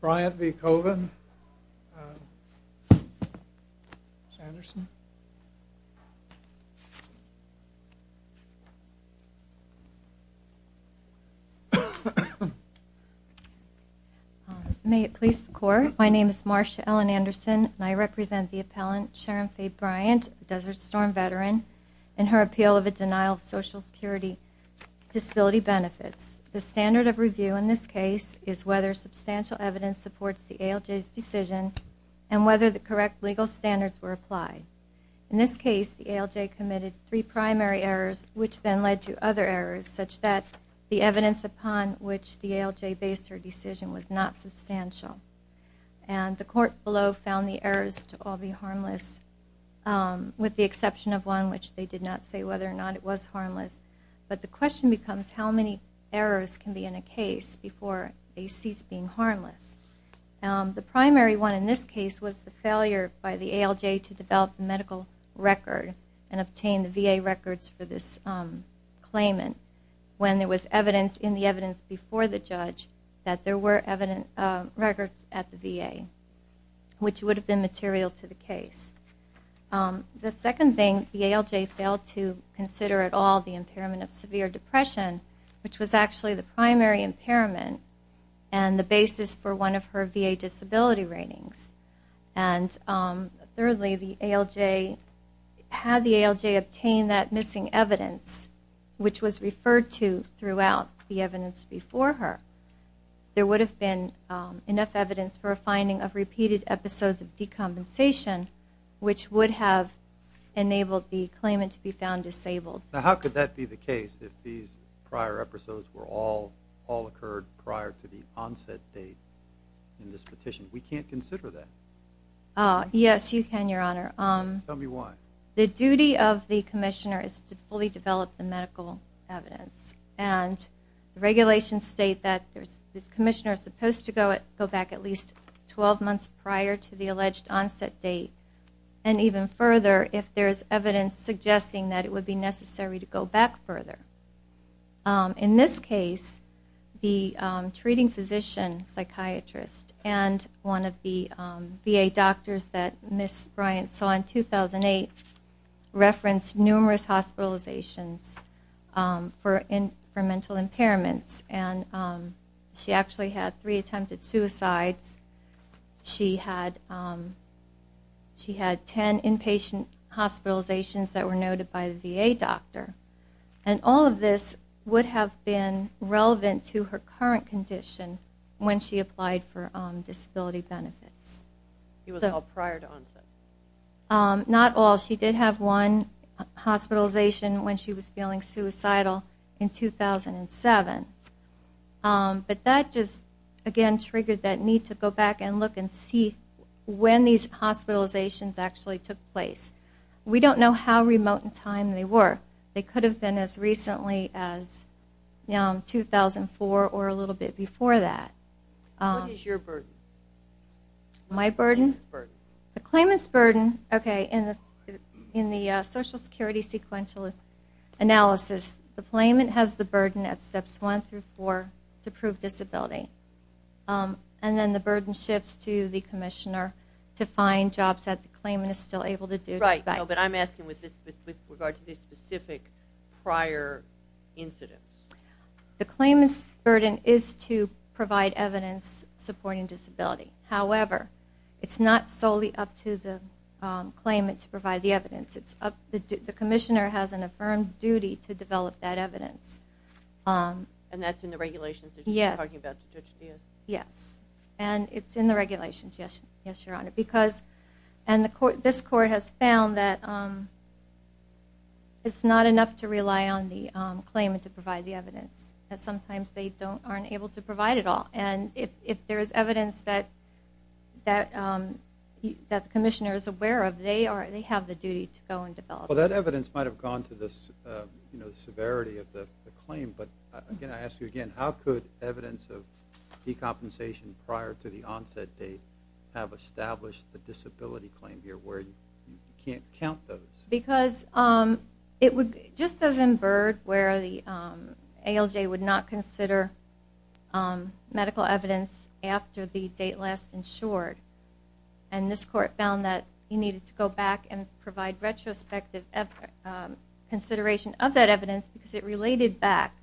Bryant v. Colvin. May it please the court, my name is Marcia Ellen Anderson and I represent the appellant Sharon Faye Bryant, Desert Storm veteran, in her appeal of a denial of Social Security disability benefits. The standard of evidence supports the ALJ's decision and whether the correct legal standards were applied. In this case the ALJ committed three primary errors which then led to other errors such that the evidence upon which the ALJ based her decision was not substantial and the court below found the errors to all be harmless with the exception of one which they did not say whether or not it was harmless but the question becomes how many errors can be in a case before they being harmless. The primary one in this case was the failure by the ALJ to develop a medical record and obtain the VA records for this claimant when there was evidence in the evidence before the judge that there were evident records at the VA which would have been material to the case. The second thing the ALJ failed to consider at all the impairment of severe depression which was actually the primary impairment and the basis for one of her VA disability ratings and thirdly the ALJ had the ALJ obtained that missing evidence which was referred to throughout the evidence before her there would have been enough evidence for a finding of repeated episodes of decompensation which would have enabled the claimant to be found disabled. Now how could that be the case if these prior episodes were all occurred prior to the onset date in this petition? We can't consider that. Yes you can your honor. Tell me why. The duty of the commissioner is to fully develop the medical evidence and regulations state that this commissioner is supposed to go back at least 12 months prior to the alleged onset date and even further if there's evidence suggesting that it In this case the treating physician psychiatrist and one of the VA doctors that Ms. Bryant saw in 2008 referenced numerous hospitalizations for mental impairments and she actually had three attempted suicides. She had ten inpatient hospitalizations that were noted by the VA doctor and all of this would have been relevant to her current condition when she applied for disability benefits. It was all prior to onset. Not all. She did have one hospitalization when she was feeling suicidal in 2007 but that just again triggered that need to go back and look and see when these hospitalizations actually took place. We don't know how remote in time they were. They could have been as recently as 2004 or a little bit before that. What is your burden? My burden? The claimant's burden. Okay in the in the Social Security sequential analysis the claimant has the burden at steps one through four to prove disability and then the burden shifts to the commissioner to find jobs that the specific prior incidents. The claimant's burden is to provide evidence supporting disability. However, it's not solely up to the claimant to provide the evidence. It's up the commissioner has an affirmed duty to develop that evidence. And that's in the regulations? Yes. Yes and it's in the regulations yes yes your honor because and the court this court has found that it's not enough to rely on the claimant to provide the evidence that sometimes they don't aren't able to provide it all and if there is evidence that that that the commissioner is aware of they are they have the duty to go and develop. Well that evidence might have gone to this you know severity of the claim but again I ask you again how could evidence of decompensation prior to the onset date have established the disability claim here where you can't count those? Because it would just as in Byrd where the ALJ would not consider medical evidence after the date last insured and this court found that you needed to go back and provide retrospective consideration of that evidence because it related back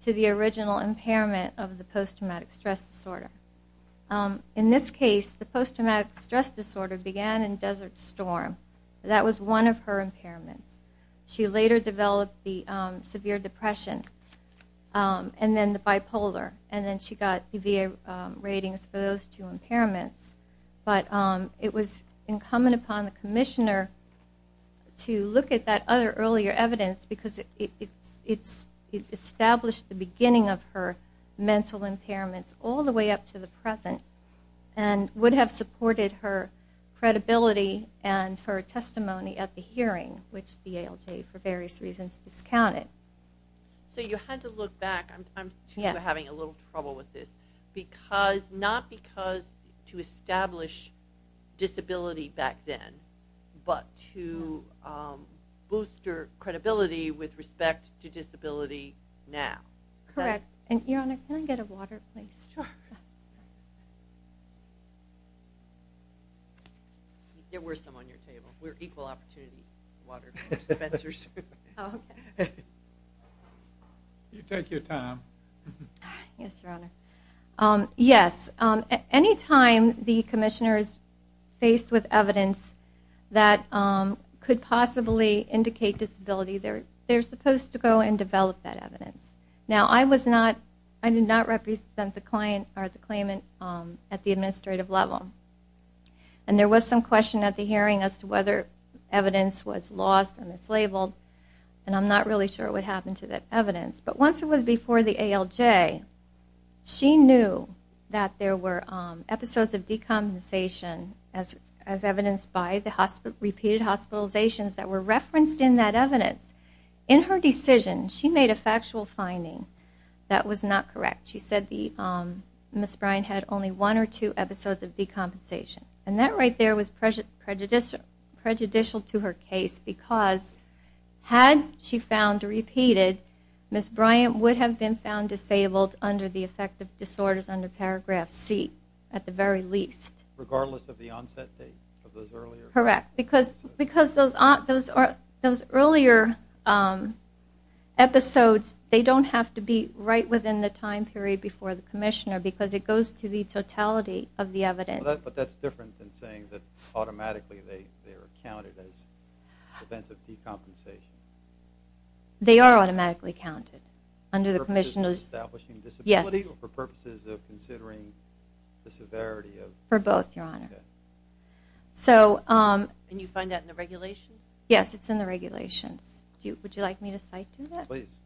to the original impairment of the post-traumatic stress disorder. In this case the post-traumatic stress disorder began in Desert Storm that was one of her impairments. She later developed the severe depression and then the bipolar and then she got EVA ratings for those two impairments but it was incumbent upon the commissioner to look at that other earlier evidence because it's it's it the beginning of her mental impairments all the way up to the present and would have supported her credibility and her testimony at the hearing which the ALJ for various reasons discounted. So you had to look back I'm having a little trouble with this because not because to establish disability back then but to bolster credibility with respect to disability now. Correct. Your Honor, can I get a water please? There were some on your table. We're equal opportunity water dispensers. You take your time. Yes, Your Honor. Yes, any time the Commissioner is faced with evidence that could possibly indicate disability they're supposed to go and develop that evidence. Now I was not I did not represent the client or the claimant at the administrative level and there was some question at the hearing as to whether evidence was lost and mislabeled and I'm not really sure what happened to that evidence but once it was before the ALJ she knew that there were episodes of decommunication as evidenced by the hospital repeated hospitalizations that were referenced in that evidence. In her decision she made a factual finding that was not correct. She said the Miss Bryant had only one or two episodes of decompensation and that right there was prejudicial to her case because had she found repeated Miss Bryant would have been found disabled under the effect of regardless of the onset date of those earlier? Correct, because those earlier episodes they don't have to be right within the time period before the Commissioner because it goes to the totality of the evidence. But that's different than saying that automatically they are counted as events of decompensation. They are automatically counted under the Commissioners. Yes. For purposes of considering the severity? For both your honor. So can you find that in the regulation? Yes it's in the regulations. Do you would you like me to cite to that? Please.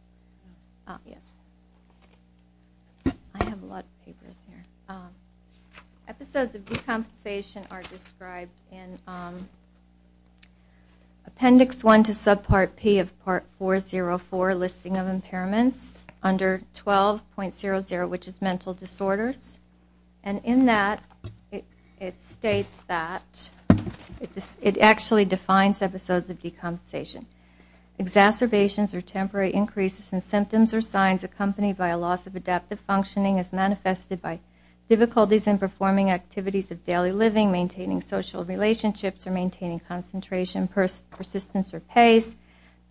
Yes. I have a lot of papers here. Episodes of decompensation are described in appendix 1 to subpart P of part 404 listing of impairments under 12.00 which is mental disorders and in that it states that it actually defines episodes of decompensation. Exacerbations or temporary increases in symptoms or signs accompanied by a loss of adaptive functioning as manifested by difficulties in performing activities of daily living, maintaining social relationships, or maintaining concentration, persistence, or pace.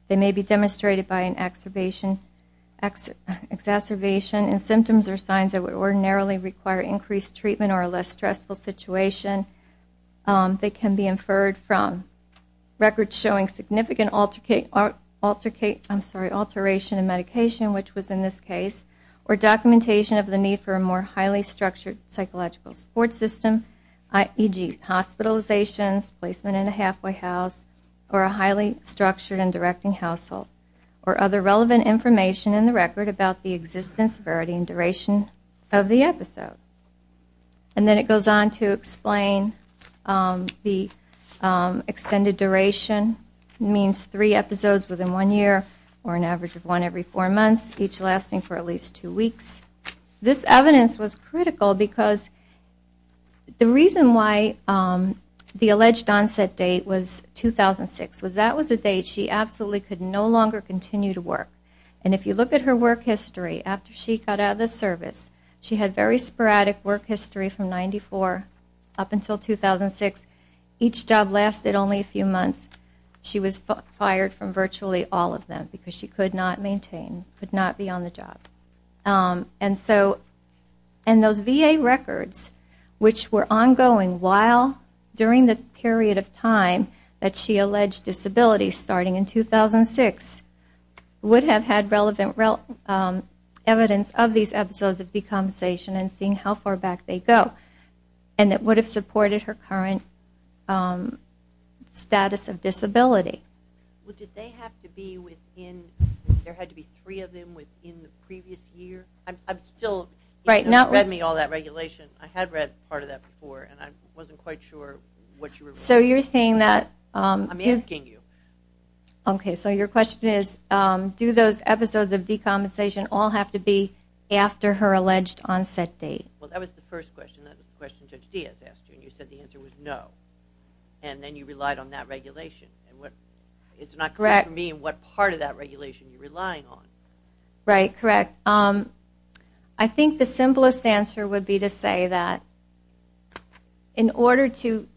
They may be demonstrated by an exacerbation in symptoms or signs that would ordinarily require increased treatment or a less stressful situation. They can be inferred from records showing significant alteration in medication, which was in this case, or documentation of the need for a more highly structured psychological support system, e.g. hospitalizations, placement in a halfway house, or a highly relevant information in the record about the existence, severity, and duration of the episode. And then it goes on to explain the extended duration means three episodes within one year or an average of one every four months, each lasting for at least two weeks. This evidence was critical because the reason why the alleged onset date was 2006 was that was a date she absolutely could no longer continue to work. And if you look at her work history after she got out of the service, she had very sporadic work history from 94 up until 2006. Each job lasted only a few months. She was fired from virtually all of them because she could not maintain, could not be on the job. And those VA records, which were ongoing while during the period of time that she alleged disability starting in 2006, would have had relevant evidence of these episodes of decompensation and seeing how far back they go. And it would have supported her current status of disability. Well did they have to be within, there had to be three of them within the previous year? I'm still, you've read me all that regulation. I had read part of that before and I wasn't quite sure what you were referring to. So you're saying that. I'm asking you. Okay, so your question is do those episodes of decompensation all have to be after her alleged onset date? Well that was the first question, that was the question Judge Diaz asked you and you said the answer was no. And then you relied on that regulation. And what, it's not correct for me what part of that regulation you're relying on. Right, correct. I think the simplest answer would be to say that in order to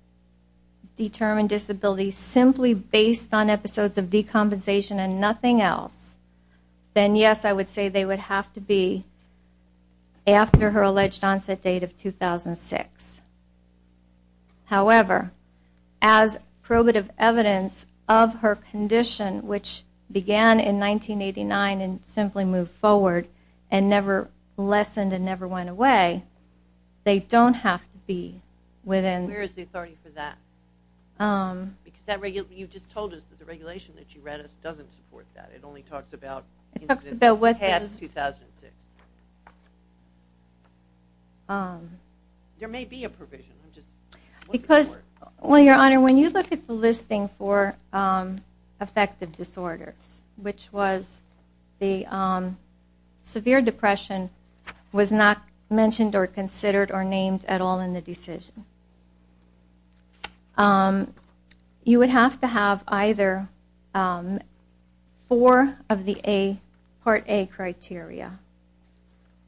determine disability simply based on episodes of decompensation and nothing else, then yes I would say they would have to be after her alleged onset date of 2006. However, as probative evidence of her condition which began in 1989 and simply moved forward and never lessened and never went away, they don't have to be within. Where is the authority for that? You just told us that the regulation that you read us doesn't support that. It only talks about incidents past 2006. There may be a provision. Because, well your honor, when you look at the listing for affective disorders, which was the severe depression, was not mentioned or considered or named at all in the decision. You would have to have either four of the Part A criteria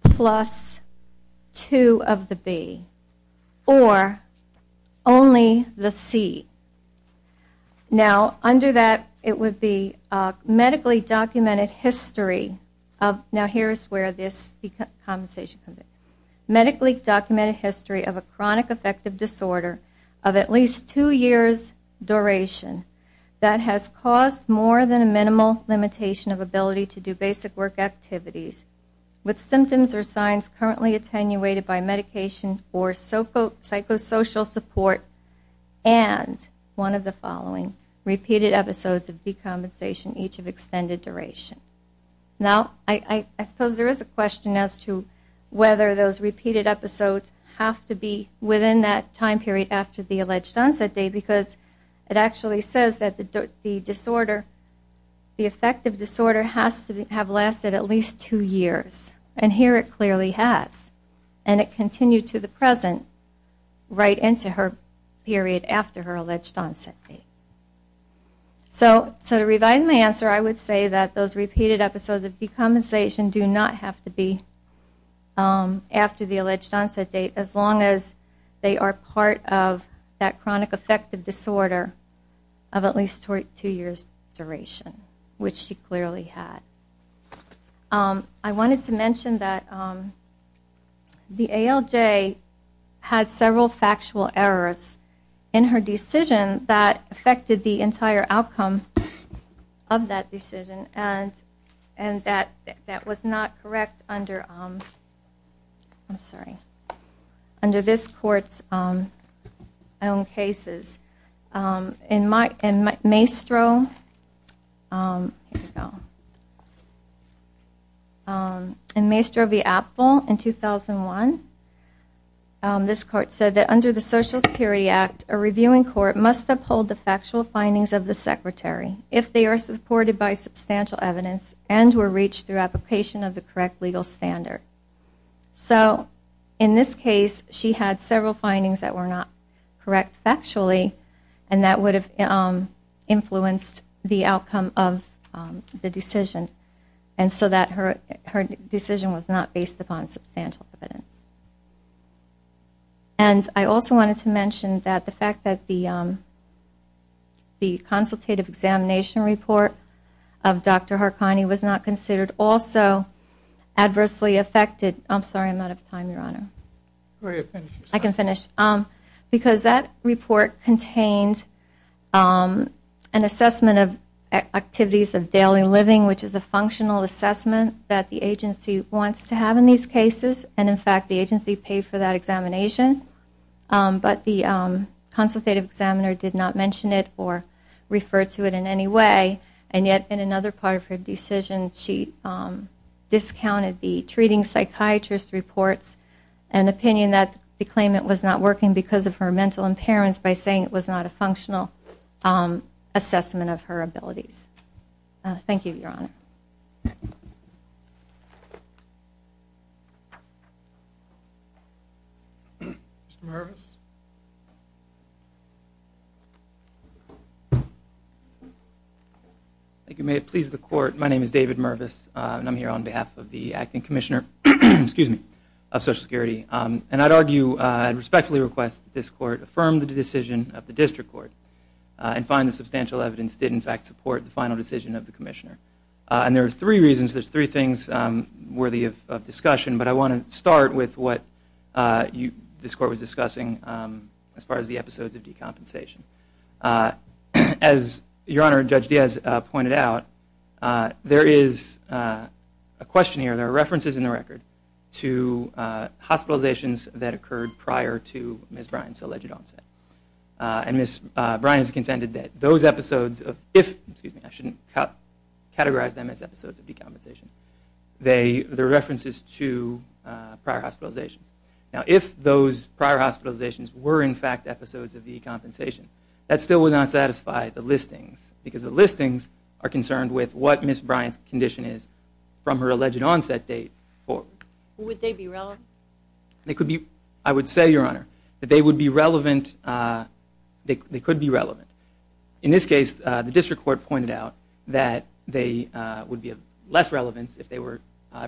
plus two of the B or only the C. Now under that it would be medically documented history of a chronic affective disorder of at least two years duration that has caused more than a minimal limitation of ability to do basic work activities with symptoms or signs currently attenuated by medication or psychosocial support and one of the following repeated episodes of decompensation each of extended duration. Now I suppose there is a question as to whether those repeated episodes have to be within that time period after the alleged onset date because it actually says that the disorder, the affective disorder has to have lasted at least two years. And here it clearly has. And it continued to the present right into her period after her alleged onset date. So to revise my answer I would say that those repeated episodes of decompensation do not have to be after the alleged onset date as long as they are part of that chronic affective disorder of at least two years duration, which she clearly had. I wanted to mention that the ALJ had several factual errors in her decision that affected the entire outcome of that decision and that was not correct under this court's own cases. In Maestro v. Appel in 2001, this court said that under the Social Security Act, a reviewing court must uphold the factual findings of the secretary if they are supported by substantial evidence and were reached through application of the correct legal standard. So in this case she had several findings that were not correct factually and that would have influenced the outcome of the decision and so that her decision was not based upon substantial evidence. And I also wanted to mention that the fact that the consultative examination report of Dr. Harkani was not considered also adversely affected because that report contained an assessment of activities of daily living, which is a functional assessment that the agency wants to have in these cases. The agency paid for that examination, but the consultative examiner did not mention it or refer to it in any way and yet in another part of her decision she discounted the treating psychiatrist reports and opinion that the claimant was not working because of her mental impairments by saying it was not a functional assessment of her abilities. Thank you, Your Honor. Thank you. May it please the court, my name is David Mervis and I'm here on behalf of the Acting Commissioner of Social Security. And I'd argue, I'd respectfully request that this court affirm the decision of the district court and find that substantial evidence did in fact support the final decision of the commissioner. And there are three reasons, there's three things worthy of discussion, but I want to start with what this court was discussing as far as the episodes of decompensation. As Your Honor, Judge Diaz pointed out, there is a question here, there are references in the record to hospitalizations that occurred prior to Ms. Bryant's alleged onset. And Ms. Bryant has contended that those episodes, if, excuse me, I shouldn't categorize them as episodes of decompensation, they are references to prior hospitalizations. Now if those prior hospitalizations were in fact episodes of decompensation, that still would not satisfy the listings because the listings are concerned with what Ms. Bryant's condition is from her alleged onset date forward. Would they be relevant? They could be, I would say, Your Honor, that they would be relevant, they could be relevant. In this case, the district court pointed out that they would be of less relevance if they were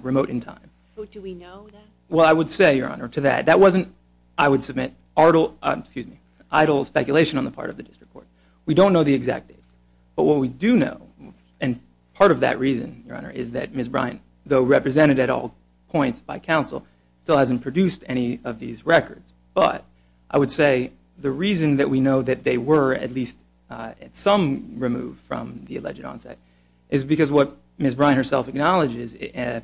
remote in time. Do we know that? Well, I would say, Your Honor, to that, that wasn't, I would submit, idle speculation on the part of the district court. We don't know the exact dates. But what we do know, and part of that reason, Your Honor, is that Ms. Bryant, though represented at all points by counsel, still hasn't produced any of these records. But, I would say, the reason that we know that they were at least at some removed from the alleged onset is because what Ms. Bryant herself acknowledges,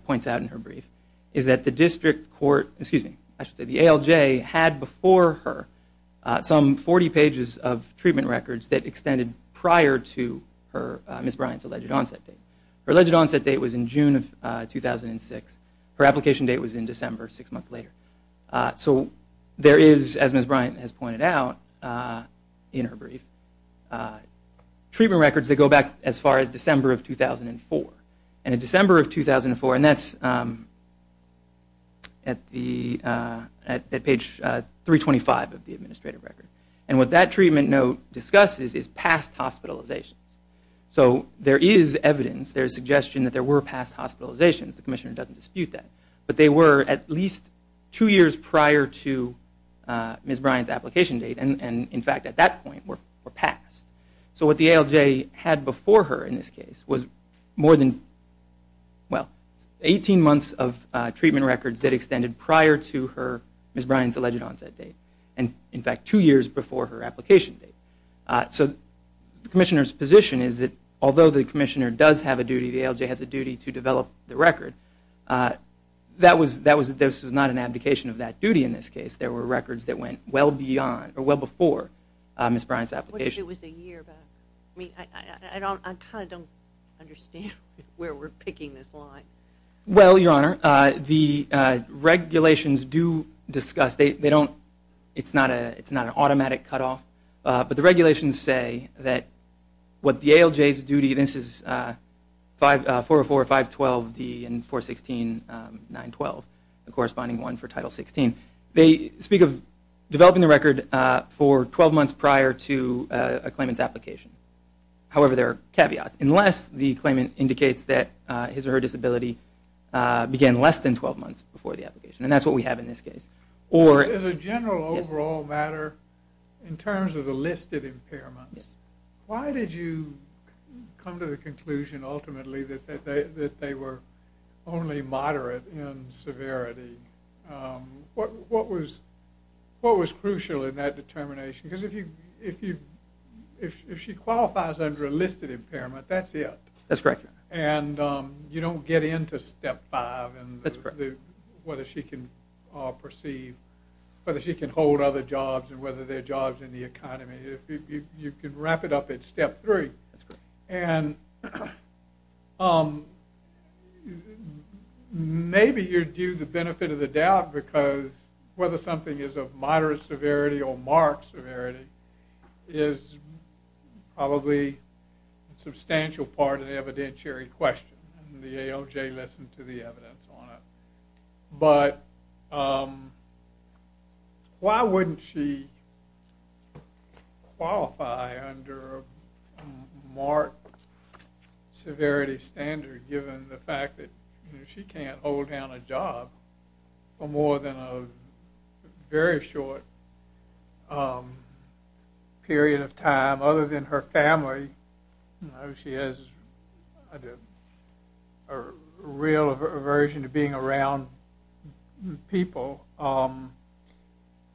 points out in her brief, is that the district court, excuse me, I should say the ALJ, had before her some 40 pages of treatment records that extended prior to Ms. Bryant's alleged onset date. Her alleged onset date was in June of 2006. Her application date was in December, six months later. So, there is, as Ms. Bryant has pointed out in her brief, treatment records that go back as far as December of 2004. And in December of 2004, and that's at the, at page 325 of the administrative record. And what that treatment note discusses is past hospitalizations. So, there is evidence, there is suggestion that there were past hospitalizations. The commissioner doesn't dispute that. But they were at least two years prior to Ms. Bryant's application date. And, in fact, at that point were passed. So, what the ALJ had before her in this case was more than, well, 18 months of treatment records that extended prior to her, Ms. Bryant's alleged onset date. And, in fact, two years before her application date. So, the commissioner's position is that although the commissioner does have a duty, the ALJ has a duty to develop the record. That was, that was, this was not an abdication of that duty in this case. There were records that went well beyond, or well before Ms. Bryant's application. What if it was a year back? I mean, I don't, I kind of don't understand where we're picking this line. Well, Your Honor, the regulations do discuss, they don't, it's not a, it's not an automatic cutoff. But the regulations say that what the ALJ's duty, this is 404-512-D and 416-912, the corresponding one for Title 16. They speak of developing the record for 12 months prior to a claimant's application. However, there are caveats. Unless the claimant indicates that his or her disability began less than 12 months before the application. And that's what we have in this case. As a general overall matter, in terms of the listed impairments, why did you come to the conclusion ultimately that they were only moderate in severity? What was, what was crucial in that determination? Because if you, if you, if she qualifies under a listed impairment, that's it. That's correct, Your Honor. And you don't get into Step 5. That's correct. Whether she can perceive, whether she can hold other jobs and whether there are jobs in the economy. You can wrap it up at Step 3. That's correct. Um, maybe you're due the benefit of the doubt because whether something is of moderate severity or marked severity is probably a substantial part of the evidentiary question. And the ALJ listened to the evidence on it. But, um, why wouldn't she qualify under a marked severity standard given the fact that she can't hold down a job for more than a very short period of time? Other than her family, you know, she has a real aversion to being around people.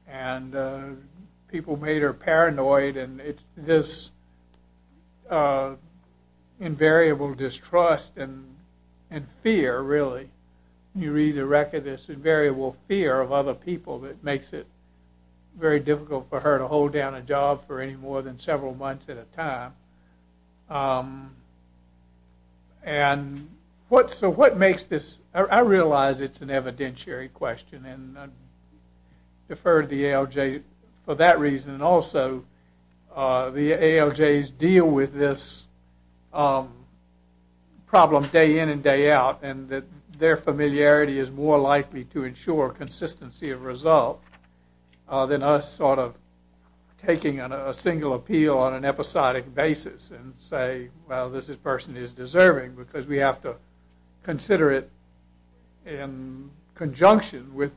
And people made her paranoid. And it's this invariable distrust and fear, really. You read the record, there's this invariable fear of other people that makes it very difficult for her to hold down a job for any more than several months at a time. And so what makes this, I realize it's an evidentiary question. And I defer to the ALJ for that reason. And also, the ALJs deal with this problem day in and day out. And that their familiarity is more likely to ensure consistency of result than us sort of taking a single appeal on an episodic basis and say, well, this person is deserving because we have to consider it in conjunction with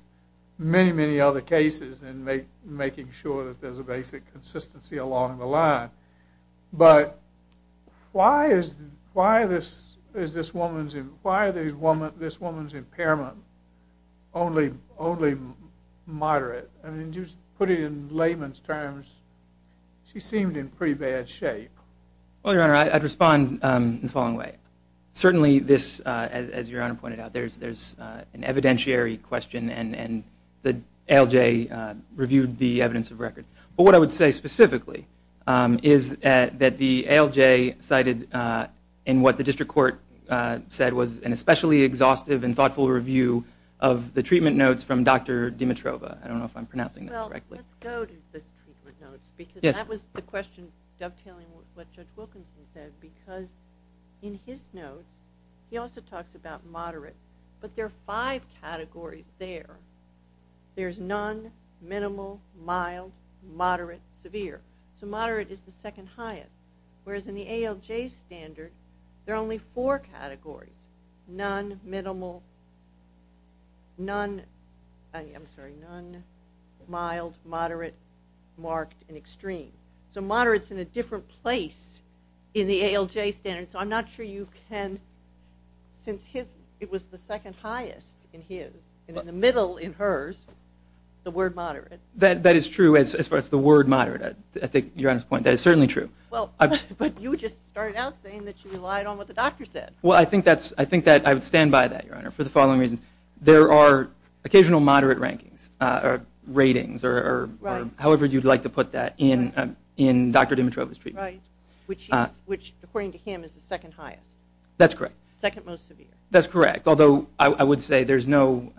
many, many other cases and making sure that there's a basic consistency along the line. But why is this woman's impairment only moderate? I mean, just put it in layman's terms, she seemed in pretty bad shape. Well, Your Honor, I'd respond in the following way. Certainly this, as Your Honor pointed out, there's an evidentiary question. And the ALJ reviewed the evidence of record. But what I would say specifically is that the ALJ cited in what the district court said was an especially exhaustive and thoughtful review of the treatment notes from Dr. Dimitrova. I don't know if I'm pronouncing that correctly. Well, let's go to the treatment notes because that was the question dovetailing with what Judge Wilkinson said because in his notes, he also talks about moderate. But there are five categories there. There's none, minimal, mild, moderate, severe. So moderate is the second highest, whereas in the ALJ standard, there are only four categories, none, minimal, none, I'm sorry, none, mild, moderate, marked, and extreme. So moderate is in a different place in the ALJ standard. So I'm not sure you can, since it was the second highest in his and in the middle in hers, the word moderate. That is true as far as the word moderate. I take Your Honor's point. That is certainly true. Well, but you just started out saying that you relied on what the doctor said. Well, I think that I would stand by that, Your Honor, for the following reasons. There are occasional moderate rankings or ratings or however you'd like to put that in Dr. Dimitrova's treatment. Right, which according to him is the second highest. That's correct. Second most severe. That's correct, although I would say there's no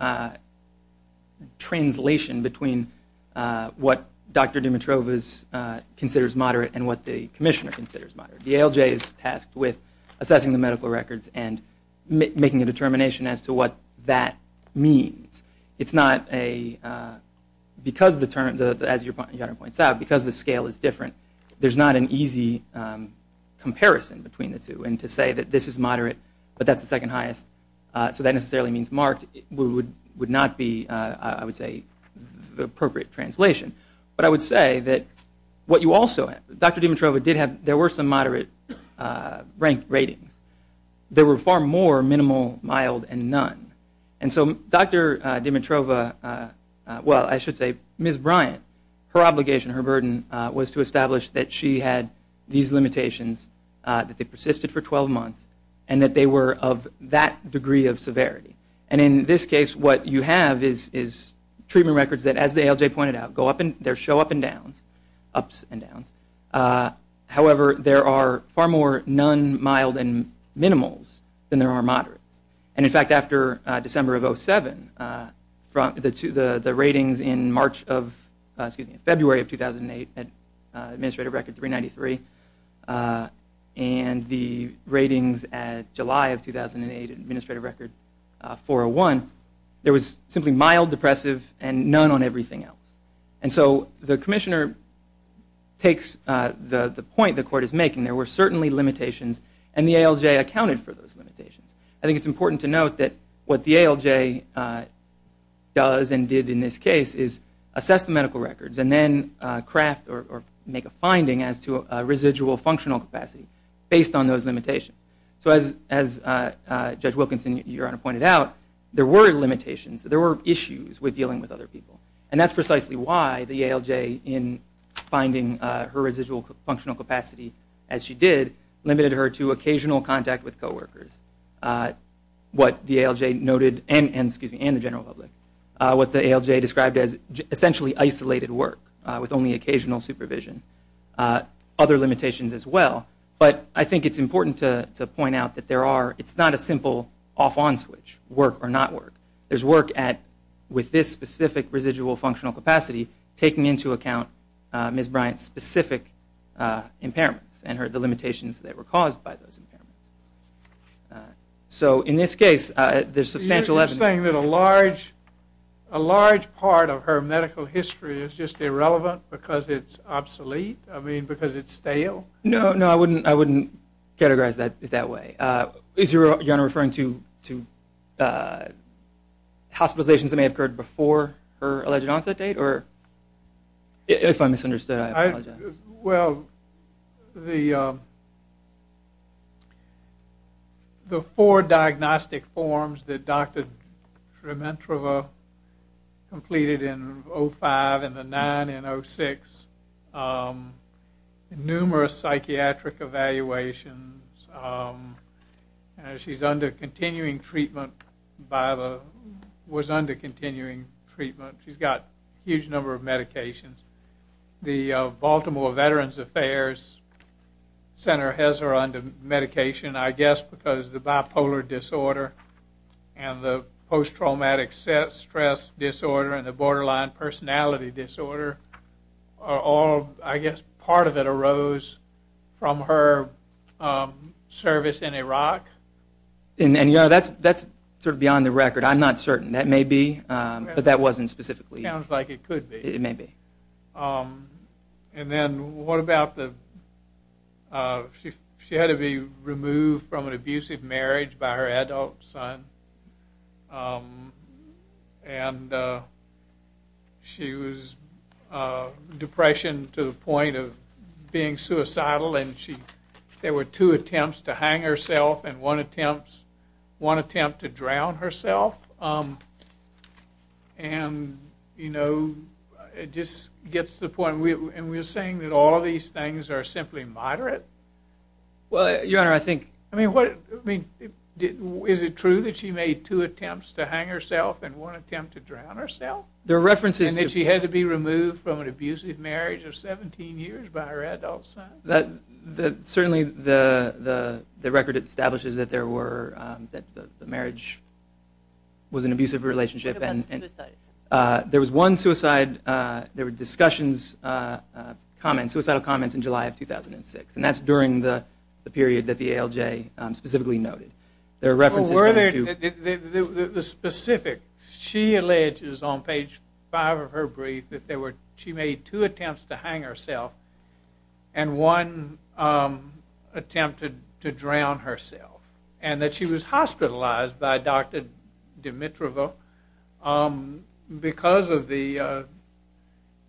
translation between what Dr. Dimitrova considers moderate and what the commissioner considers moderate. The ALJ is tasked with assessing the medical records and making a determination as to what that means. It's not a, because the terms, as Your Honor points out, because the scale is different, there's not an easy comparison between the two. And to say that this is moderate but that's the second highest, so that necessarily means marked, would not be, I would say, the appropriate translation. But I would say that what you also, Dr. Dimitrova did have, there were some moderate ranked ratings. There were far more minimal, mild, and none. And so Dr. Dimitrova, well, I should say Ms. Bryant, her obligation, her burden, was to establish that she had these limitations, that they persisted for 12 months, and that they were of that degree of severity. And in this case, what you have is treatment records that, as the ALJ pointed out, go up and show up and downs, ups and downs. However, there are far more none, mild, and minimals than there are moderates. And in fact, after December of 2007, the ratings in March of, excuse me, February of 2008 at Administrative Record 393, and the ratings at July of 2008 at Administrative Record 401, there was simply mild, depressive, and none on everything else. And so the commissioner takes the point the court is making. There were certainly limitations, and the ALJ accounted for those limitations. I think it's important to note that what the ALJ does and did in this case is assess the medical records and then craft or make a finding as to a residual functional capacity based on those limitations. So as Judge Wilkinson, Your Honor, pointed out, there were limitations. There were issues with dealing with other people. And that's precisely why the ALJ, in finding her residual functional capacity as she did, limited her to occasional contact with coworkers, what the ALJ noted, and the general public, what the ALJ described as essentially isolated work with only occasional supervision. Other limitations as well. But I think it's important to point out that there are, it's not a simple off-on switch, work or not work. There's work at, with this specific residual functional capacity, taking into account Ms. Bryant's specific impairments and the limitations that were caused by those impairments. So in this case, there's substantial evidence. You're saying that a large part of her medical history is just irrelevant because it's obsolete? I mean, because it's stale? No, no, I wouldn't categorize it that way. Is Your Honor referring to hospitalizations that may have occurred before her alleged onset date? Or, if I misunderstood, I apologize. Well, the four diagnostic forms that Dr. Shremantrava completed in 05 and the nine in 06, numerous psychiatric evaluations, she's under continuing treatment by the, was under continuing treatment. She's got a huge number of medications. The Baltimore Veterans Affairs Center has her under medication, I guess, because the bipolar disorder and the post-traumatic stress disorder and the borderline personality disorder are all, I guess, part of it arose from her service in Iraq? And Your Honor, that's sort of beyond the record. I'm not certain. That may be, but that wasn't specifically. It sounds like it could be. It may be. And then what about the, she had to be removed from an abusive marriage by her adult son. And she was depression to the point of being suicidal, and there were two attempts to hang herself and one attempt to drown herself. And, you know, it just gets to the point, and we're saying that all of these things are simply moderate? Well, Your Honor, I think. I mean, is it true that she made two attempts to hang herself and one attempt to drown herself? There are references to. And that she had to be removed from an abusive marriage of 17 years by her adult son? Certainly the record establishes that there were, that the marriage was an abusive relationship. What about suicide? There was one suicide, there were discussions, comments, suicidal comments in July of 2006, and that's during the period that the ALJ specifically noted. There are references to. The specifics. She alleges on page five of her brief that she made two attempts to hang herself and one attempt to drown herself, and that she was hospitalized by Dr. Dimitrova because of the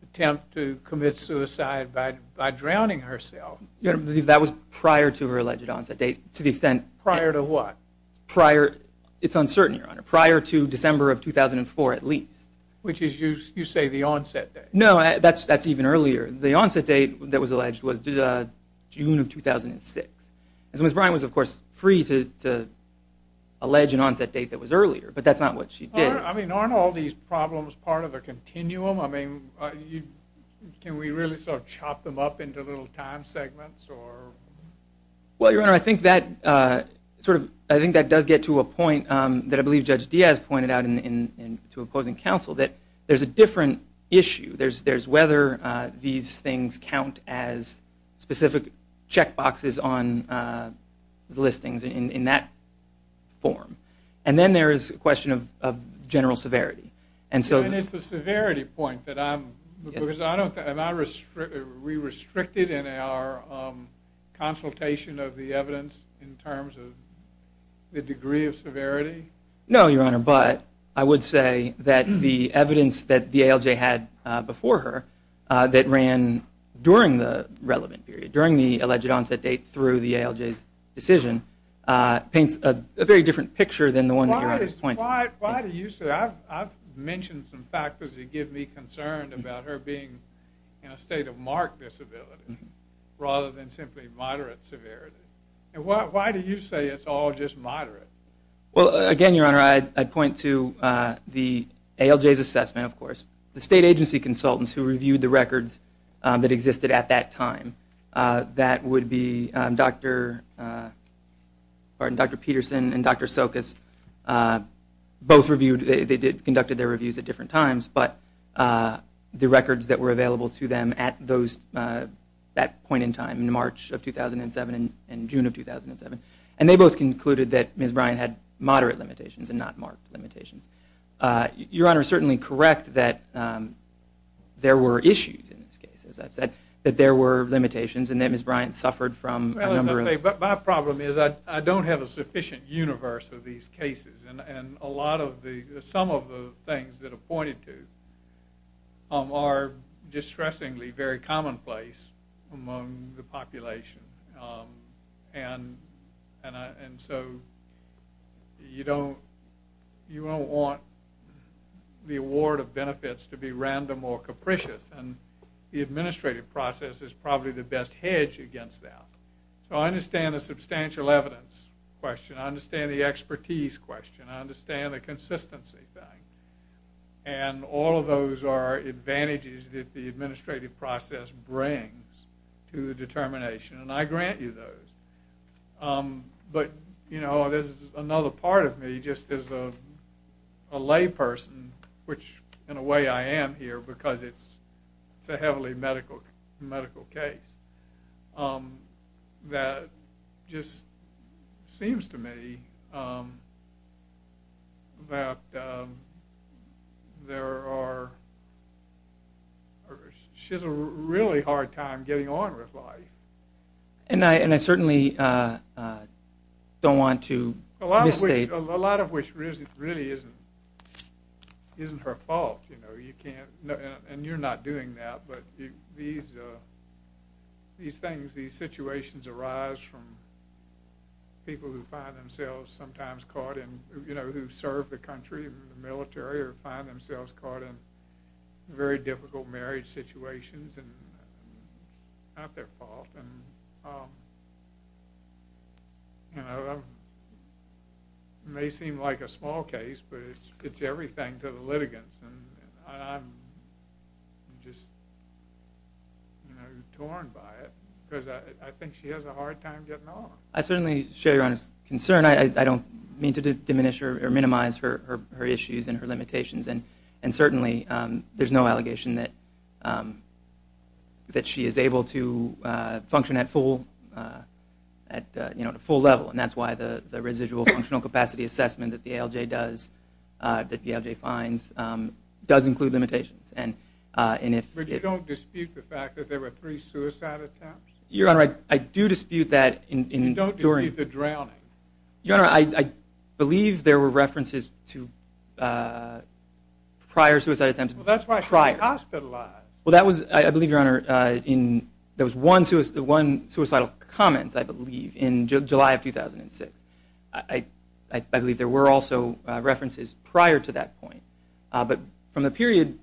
attempt to commit suicide by drowning herself. That was prior to her alleged onset date, to the extent. Prior to what? Prior. It's uncertain, Your Honor. Prior to December of 2004 at least. Which is, you say, the onset date. No, that's even earlier. The onset date that was alleged was June of 2006. Ms. Bryan was, of course, free to allege an onset date that was earlier, but that's not what she did. I mean, aren't all these problems part of the continuum? I mean, can we really sort of chop them up into little time segments? Well, Your Honor, I think that does get to a point that I believe Judge Diaz pointed out to opposing counsel, that there's a different issue. There's whether these things count as specific check boxes on the listings in that form. And then there is a question of general severity. And it's the severity point that I'm, because I don't think, are we restricted in our consultation of the evidence in terms of the degree of severity? No, Your Honor, but I would say that the evidence that the ALJ had before her, that ran during the relevant period, during the alleged onset date through the ALJ's decision, paints a very different picture than the one that you're at this point. Why do you say that? I've mentioned some factors that give me concern about her being in a state of marked disability rather than simply moderate severity. And why do you say it's all just moderate? Well, again, Your Honor, I'd point to the ALJ's assessment, of course, the state agency consultants who reviewed the records that existed at that time. That would be Dr. Peterson and Dr. Sokas. Both reviewed, they conducted their reviews at different times, but the records that were available to them at that point in time, in March of 2007 and June of 2007, and they both concluded that Ms. Bryan had moderate limitations and not marked limitations. Your Honor is certainly correct that there were issues in this case, as I've said, that there were limitations and that Ms. Bryan suffered from a number of them. Well, as I say, my problem is I don't have a sufficient universe of these cases, and some of the things that are pointed to are distressingly very commonplace among the population. And so you don't want the award of benefits to be random or capricious, and the administrative process is probably the best hedge against that. So I understand the substantial evidence question. I understand the expertise question. I understand the consistency thing. And all of those are advantages that the administrative process brings to the determination, and I grant you those. But, you know, there's another part of me just as a layperson, which in a way I am here because it's a heavily medical case, that just seems to me that there are or she has a really hard time getting on with life. And I certainly don't want to misstate. A lot of which really isn't her fault. You know, you can't, and you're not doing that, but these things, these situations arise from people who find themselves sometimes caught in, you know, who serve the country in the military or find themselves caught in very difficult marriage situations, and it's not their fault. And, you know, it may seem like a small case, but it's everything to the litigants, and I'm just, you know, torn by it because I think she has a hard time getting on. I certainly share your concern. I don't mean to diminish or minimize her issues and her limitations, and certainly there's no allegation that she is able to function at full level, and that's why the residual functional capacity assessment that the ALJ does, that the ALJ finds, does include limitations. But you don't dispute the fact that there were three suicide attempts? Your Honor, I do dispute that. You don't dispute the drowning? Your Honor, I believe there were references to prior suicide attempts. Well, that's why she was hospitalized. Well, I believe, Your Honor, there was one suicidal comment, I believe, in July of 2006. I believe there were also references prior to that point. But from the period,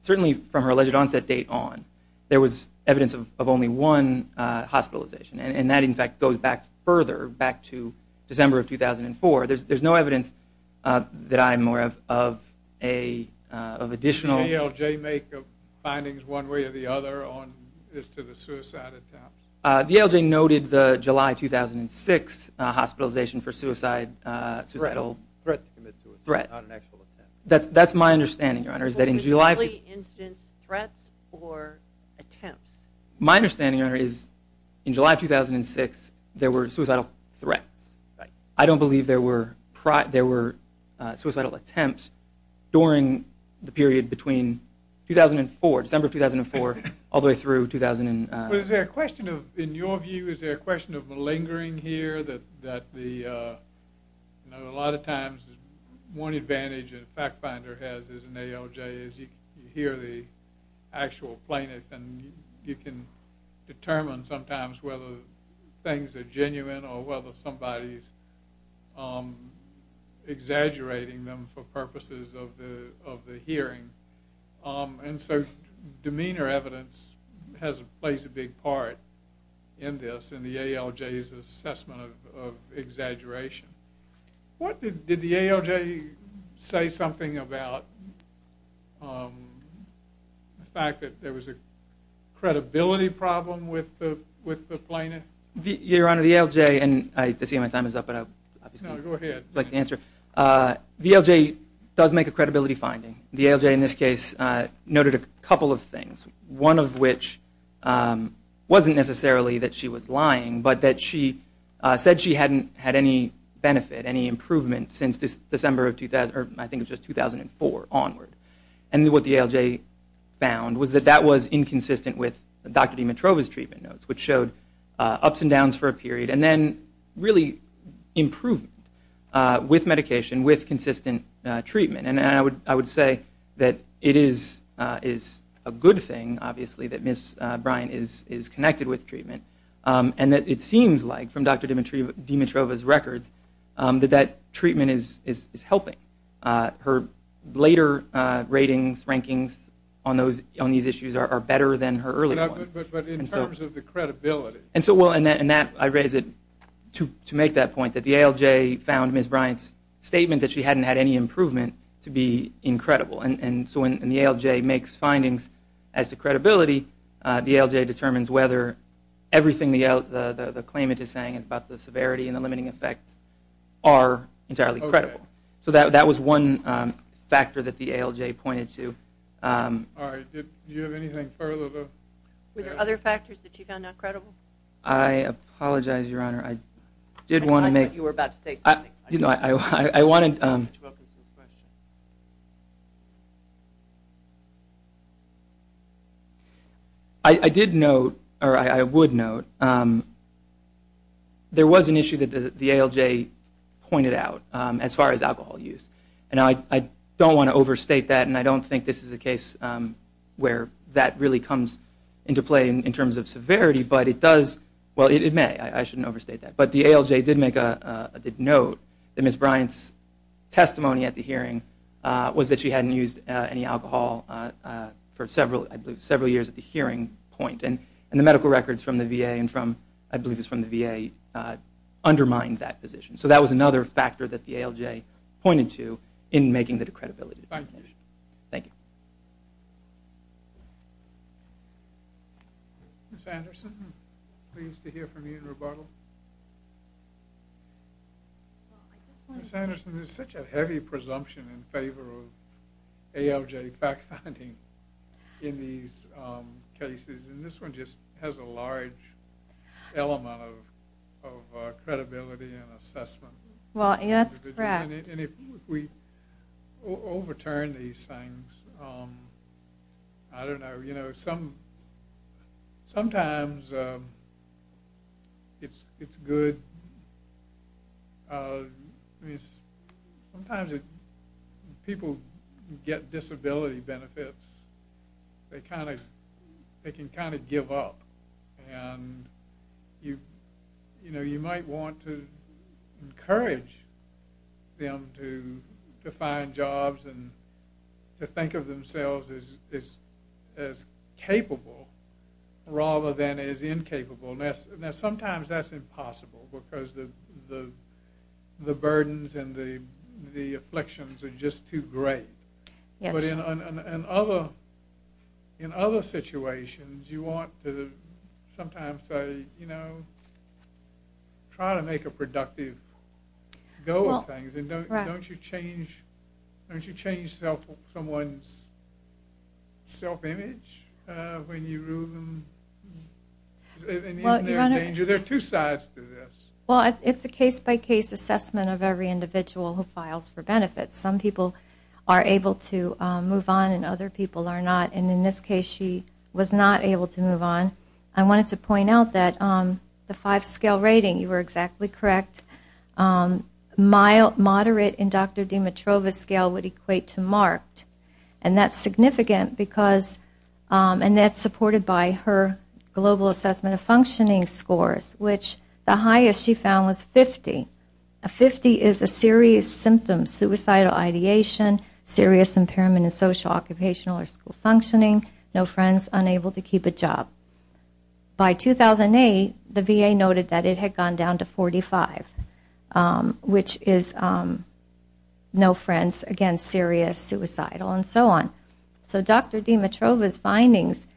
certainly from her alleged onset date on, there was evidence of only one hospitalization, and that, in fact, goes back further, back to December of 2004. There's no evidence that I'm aware of additional. Did the ALJ make findings one way or the other as to the suicide attempts? The ALJ noted the July 2006 hospitalization for suicide. Threat to commit suicide, not an actual attempt. That's my understanding, Your Honor, is that in July. Was it simply incidents, threats, or attempts? My understanding, Your Honor, is in July of 2006, there were suicidal threats. I don't believe there were suicidal attempts during the period between 2004, December of 2004, all the way through 2000. Is there a question of, in your view, is there a question of malingering here, that a lot of times one advantage that a fact finder has as an ALJ is you hear the actual plaintiff, and you can determine sometimes whether things are genuine or whether somebody's exaggerating them for purposes of the hearing. And so demeanor evidence plays a big part in this, in the ALJ's assessment of exaggeration. Did the ALJ say something about the fact that there was a credibility problem with the plaintiff? Your Honor, the ALJ, and I see my time is up, but I'd like to answer. The ALJ does make a credibility finding. The ALJ in this case noted a couple of things, one of which wasn't necessarily that she was lying, but that she said she hadn't had any benefit, any improvement, since December of 2000, or I think it was just 2004, onward. And what the ALJ found was that that was inconsistent with Dr. Dimitrova's treatment notes, which showed ups and downs for a period, and then really improvement with medication, with consistent treatment. And I would say that it is a good thing, obviously, that Ms. Bryant is connected with treatment, and that it seems like, from Dr. Dimitrova's records, that that treatment is helping. Her later ratings, rankings, on these issues are better than her early ones. But in terms of the credibility. And so I raise it to make that point, that the ALJ found Ms. Bryant's statement that she hadn't had any improvement to be incredible. The ALJ determines whether everything the claimant is saying is about the severity and the limiting effects are entirely credible. So that was one factor that the ALJ pointed to. All right. Do you have anything further? Were there other factors that you found not credible? I apologize, Your Honor. I did want to make... I thought you were about to say something. I wanted... I did note, or I would note, there was an issue that the ALJ pointed out, as far as alcohol use. And I don't want to overstate that, and I don't think this is a case where that really comes into play in terms of severity, but it does... well, it may. I shouldn't overstate that. But the ALJ did make a note that Ms. Bryant's testimony at the hearing was that she hadn't used any alcohol for several, I believe, several years at the hearing point. And the medical records from the VA and from, I believe it was from the VA, undermined that position. So that was another factor that the ALJ pointed to in making the decredibility determination. Thank you. Thank you. Ms. Anderson, pleased to hear from you in rebuttal. Thank you. Ms. Anderson, there's such a heavy presumption in favor of ALJ fact-finding in these cases, and this one just has a large element of credibility and assessment. Well, that's correct. And if we overturn these things, I don't know. You know, sometimes it's good. Sometimes people get disability benefits. They can kind of give up. And, you know, you might want to encourage them to find jobs and to think of themselves as capable rather than as incapable. Now, sometimes that's impossible because the burdens and the afflictions are just too great. Yes. But in other situations, you want to sometimes say, you know, try to make a productive go of things. And don't you change someone's self-image when you rule them? Isn't there a danger? There are two sides to this. Well, it's a case-by-case assessment of every individual who files for benefits. Some people are able to move on and other people are not. And in this case, she was not able to move on. I wanted to point out that the five-scale rating, you were exactly correct, moderate in Dr. Dimitrova's scale would equate to marked. And that's significant because that's supported by her global assessment of functioning scores, which the highest she found was 50. A 50 is a serious symptom, suicidal ideation, serious impairment in social, occupational, or school functioning, no friends, unable to keep a job. By 2008, the VA noted that it had gone down to 45, which is no friends, again, serious, suicidal, and so on. So Dr. Dimitrova's findings,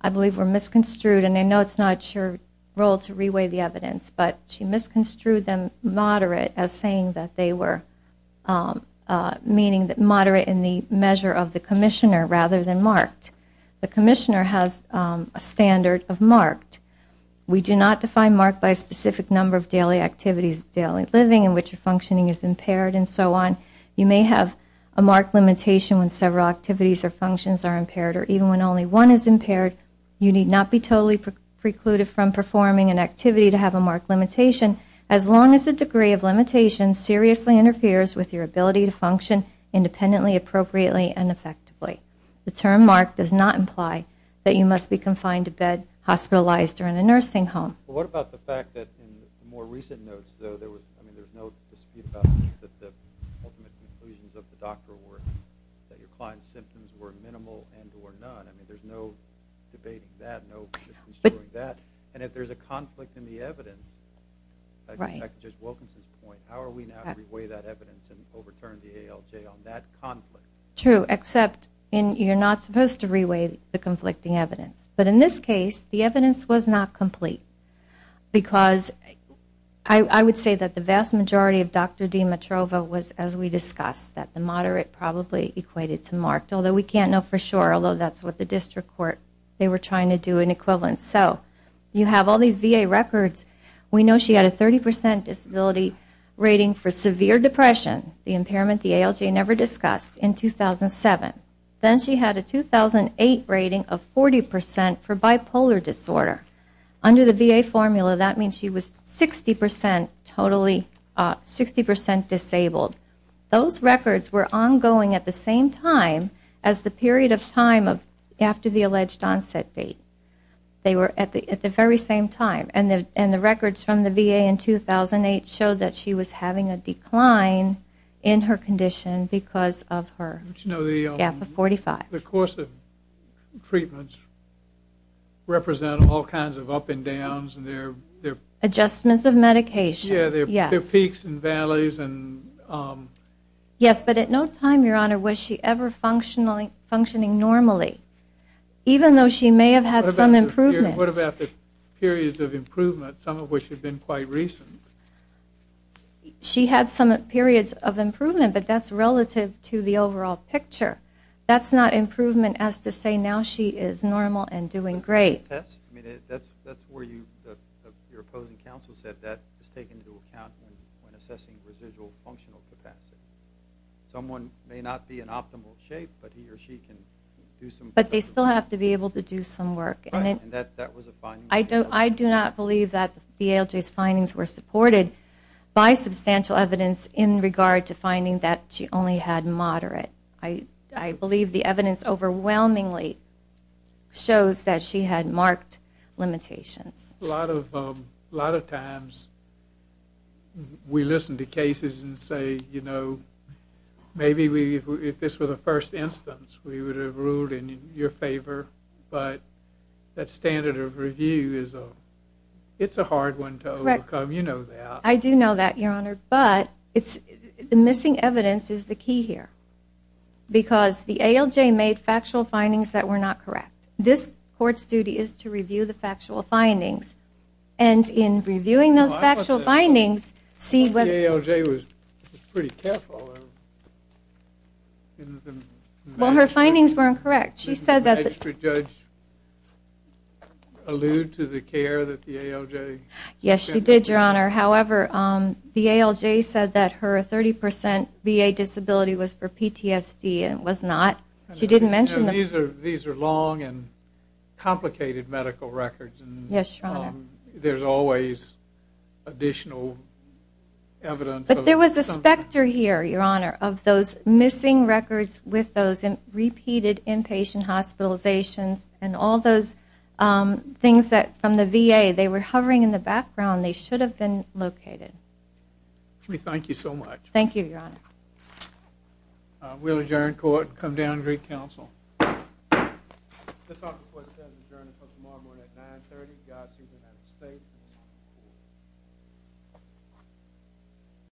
I believe, were misconstrued, and I know it's not your role to reweigh the evidence, but she misconstrued them moderate as saying that they were meaning moderate in the measure of the commissioner rather than marked. The commissioner has a standard of marked. We do not define marked by a specific number of daily activities, daily living in which your functioning is impaired, and so on. You may have a marked limitation when several activities or functions are impaired, or even when only one is impaired, you need not be totally precluded from performing an activity to have a marked limitation as long as the degree of limitation seriously interferes with your ability to function independently, appropriately, and effectively. The term marked does not imply that you must be confined to bed, hospitalized, or in a nursing home. What about the fact that in the more recent notes, though, there was no dispute about the ultimate conclusions of the doctor were that your client's symptoms were minimal and or none. I mean, there's no debating that, no misconstruing that. And if there's a conflict in the evidence, I guess that just welcomes this point. How are we now to reweigh that evidence and overturn the ALJ on that conflict? True, except you're not supposed to reweigh the conflicting evidence. But in this case, the evidence was not complete because I would say that the vast majority of Dr. Dimitrova was, as we discussed, that the moderate probably equated to marked, although we can't know for sure, although that's what the district court, they were trying to do in equivalence. So you have all these VA records. We know she had a 30% disability rating for severe depression, the impairment the ALJ never discussed, in 2007. Then she had a 2008 rating of 40% for bipolar disorder. Under the VA formula, that means she was 60% disabled. Those records were ongoing at the same time as the period of time after the alleged onset date. They were at the very same time. And the records from the VA in 2008 showed that she was having a decline in her condition because of her gap of 45. The course of treatments represented all kinds of up and downs. Adjustments of medication, yes. Peaks and valleys. Yes, but at no time, Your Honor, was she ever functioning normally, even though she may have had some improvement. What about the periods of improvement, some of which had been quite recent? She had some periods of improvement, but that's relative to the overall picture. That's not improvement as to say now she is normal and doing great. That's where your opposing counsel said that is taken into account when assessing residual functional capacity. Someone may not be in optimal shape, but he or she can do some work. But they still have to be able to do some work. And that was a finding. I do not believe that the ALJ's findings were supported by substantial evidence in regard to finding that she only had moderate. I believe the evidence overwhelmingly shows that she had marked limitations. A lot of times we listen to cases and say, you know, maybe if this were the first instance we would have ruled in your favor, but that standard of review, it's a hard one to overcome. You know that. I do know that, Your Honor. But the missing evidence is the key here because the ALJ made factual findings that were not correct. This court's duty is to review the factual findings. And in reviewing those factual findings, see whether the ALJ was pretty careful. Well, her findings were incorrect. She said that the- Did the magistrate judge allude to the care that the ALJ- Yes, she did, Your Honor. However, the ALJ said that her 30% VA disability was for PTSD and was not. She didn't mention the- These are long and complicated medical records. Yes, Your Honor. There's always additional evidence of- But there was a specter here, Your Honor, of those missing records with those repeated inpatient hospitalizations and all those things from the VA. They were hovering in the background. They should have been located. Thank you so much. Thank you, Your Honor. We'll adjourn court and come down and greet counsel. This office has adjourned until tomorrow morning at 930. Godspeed, United States.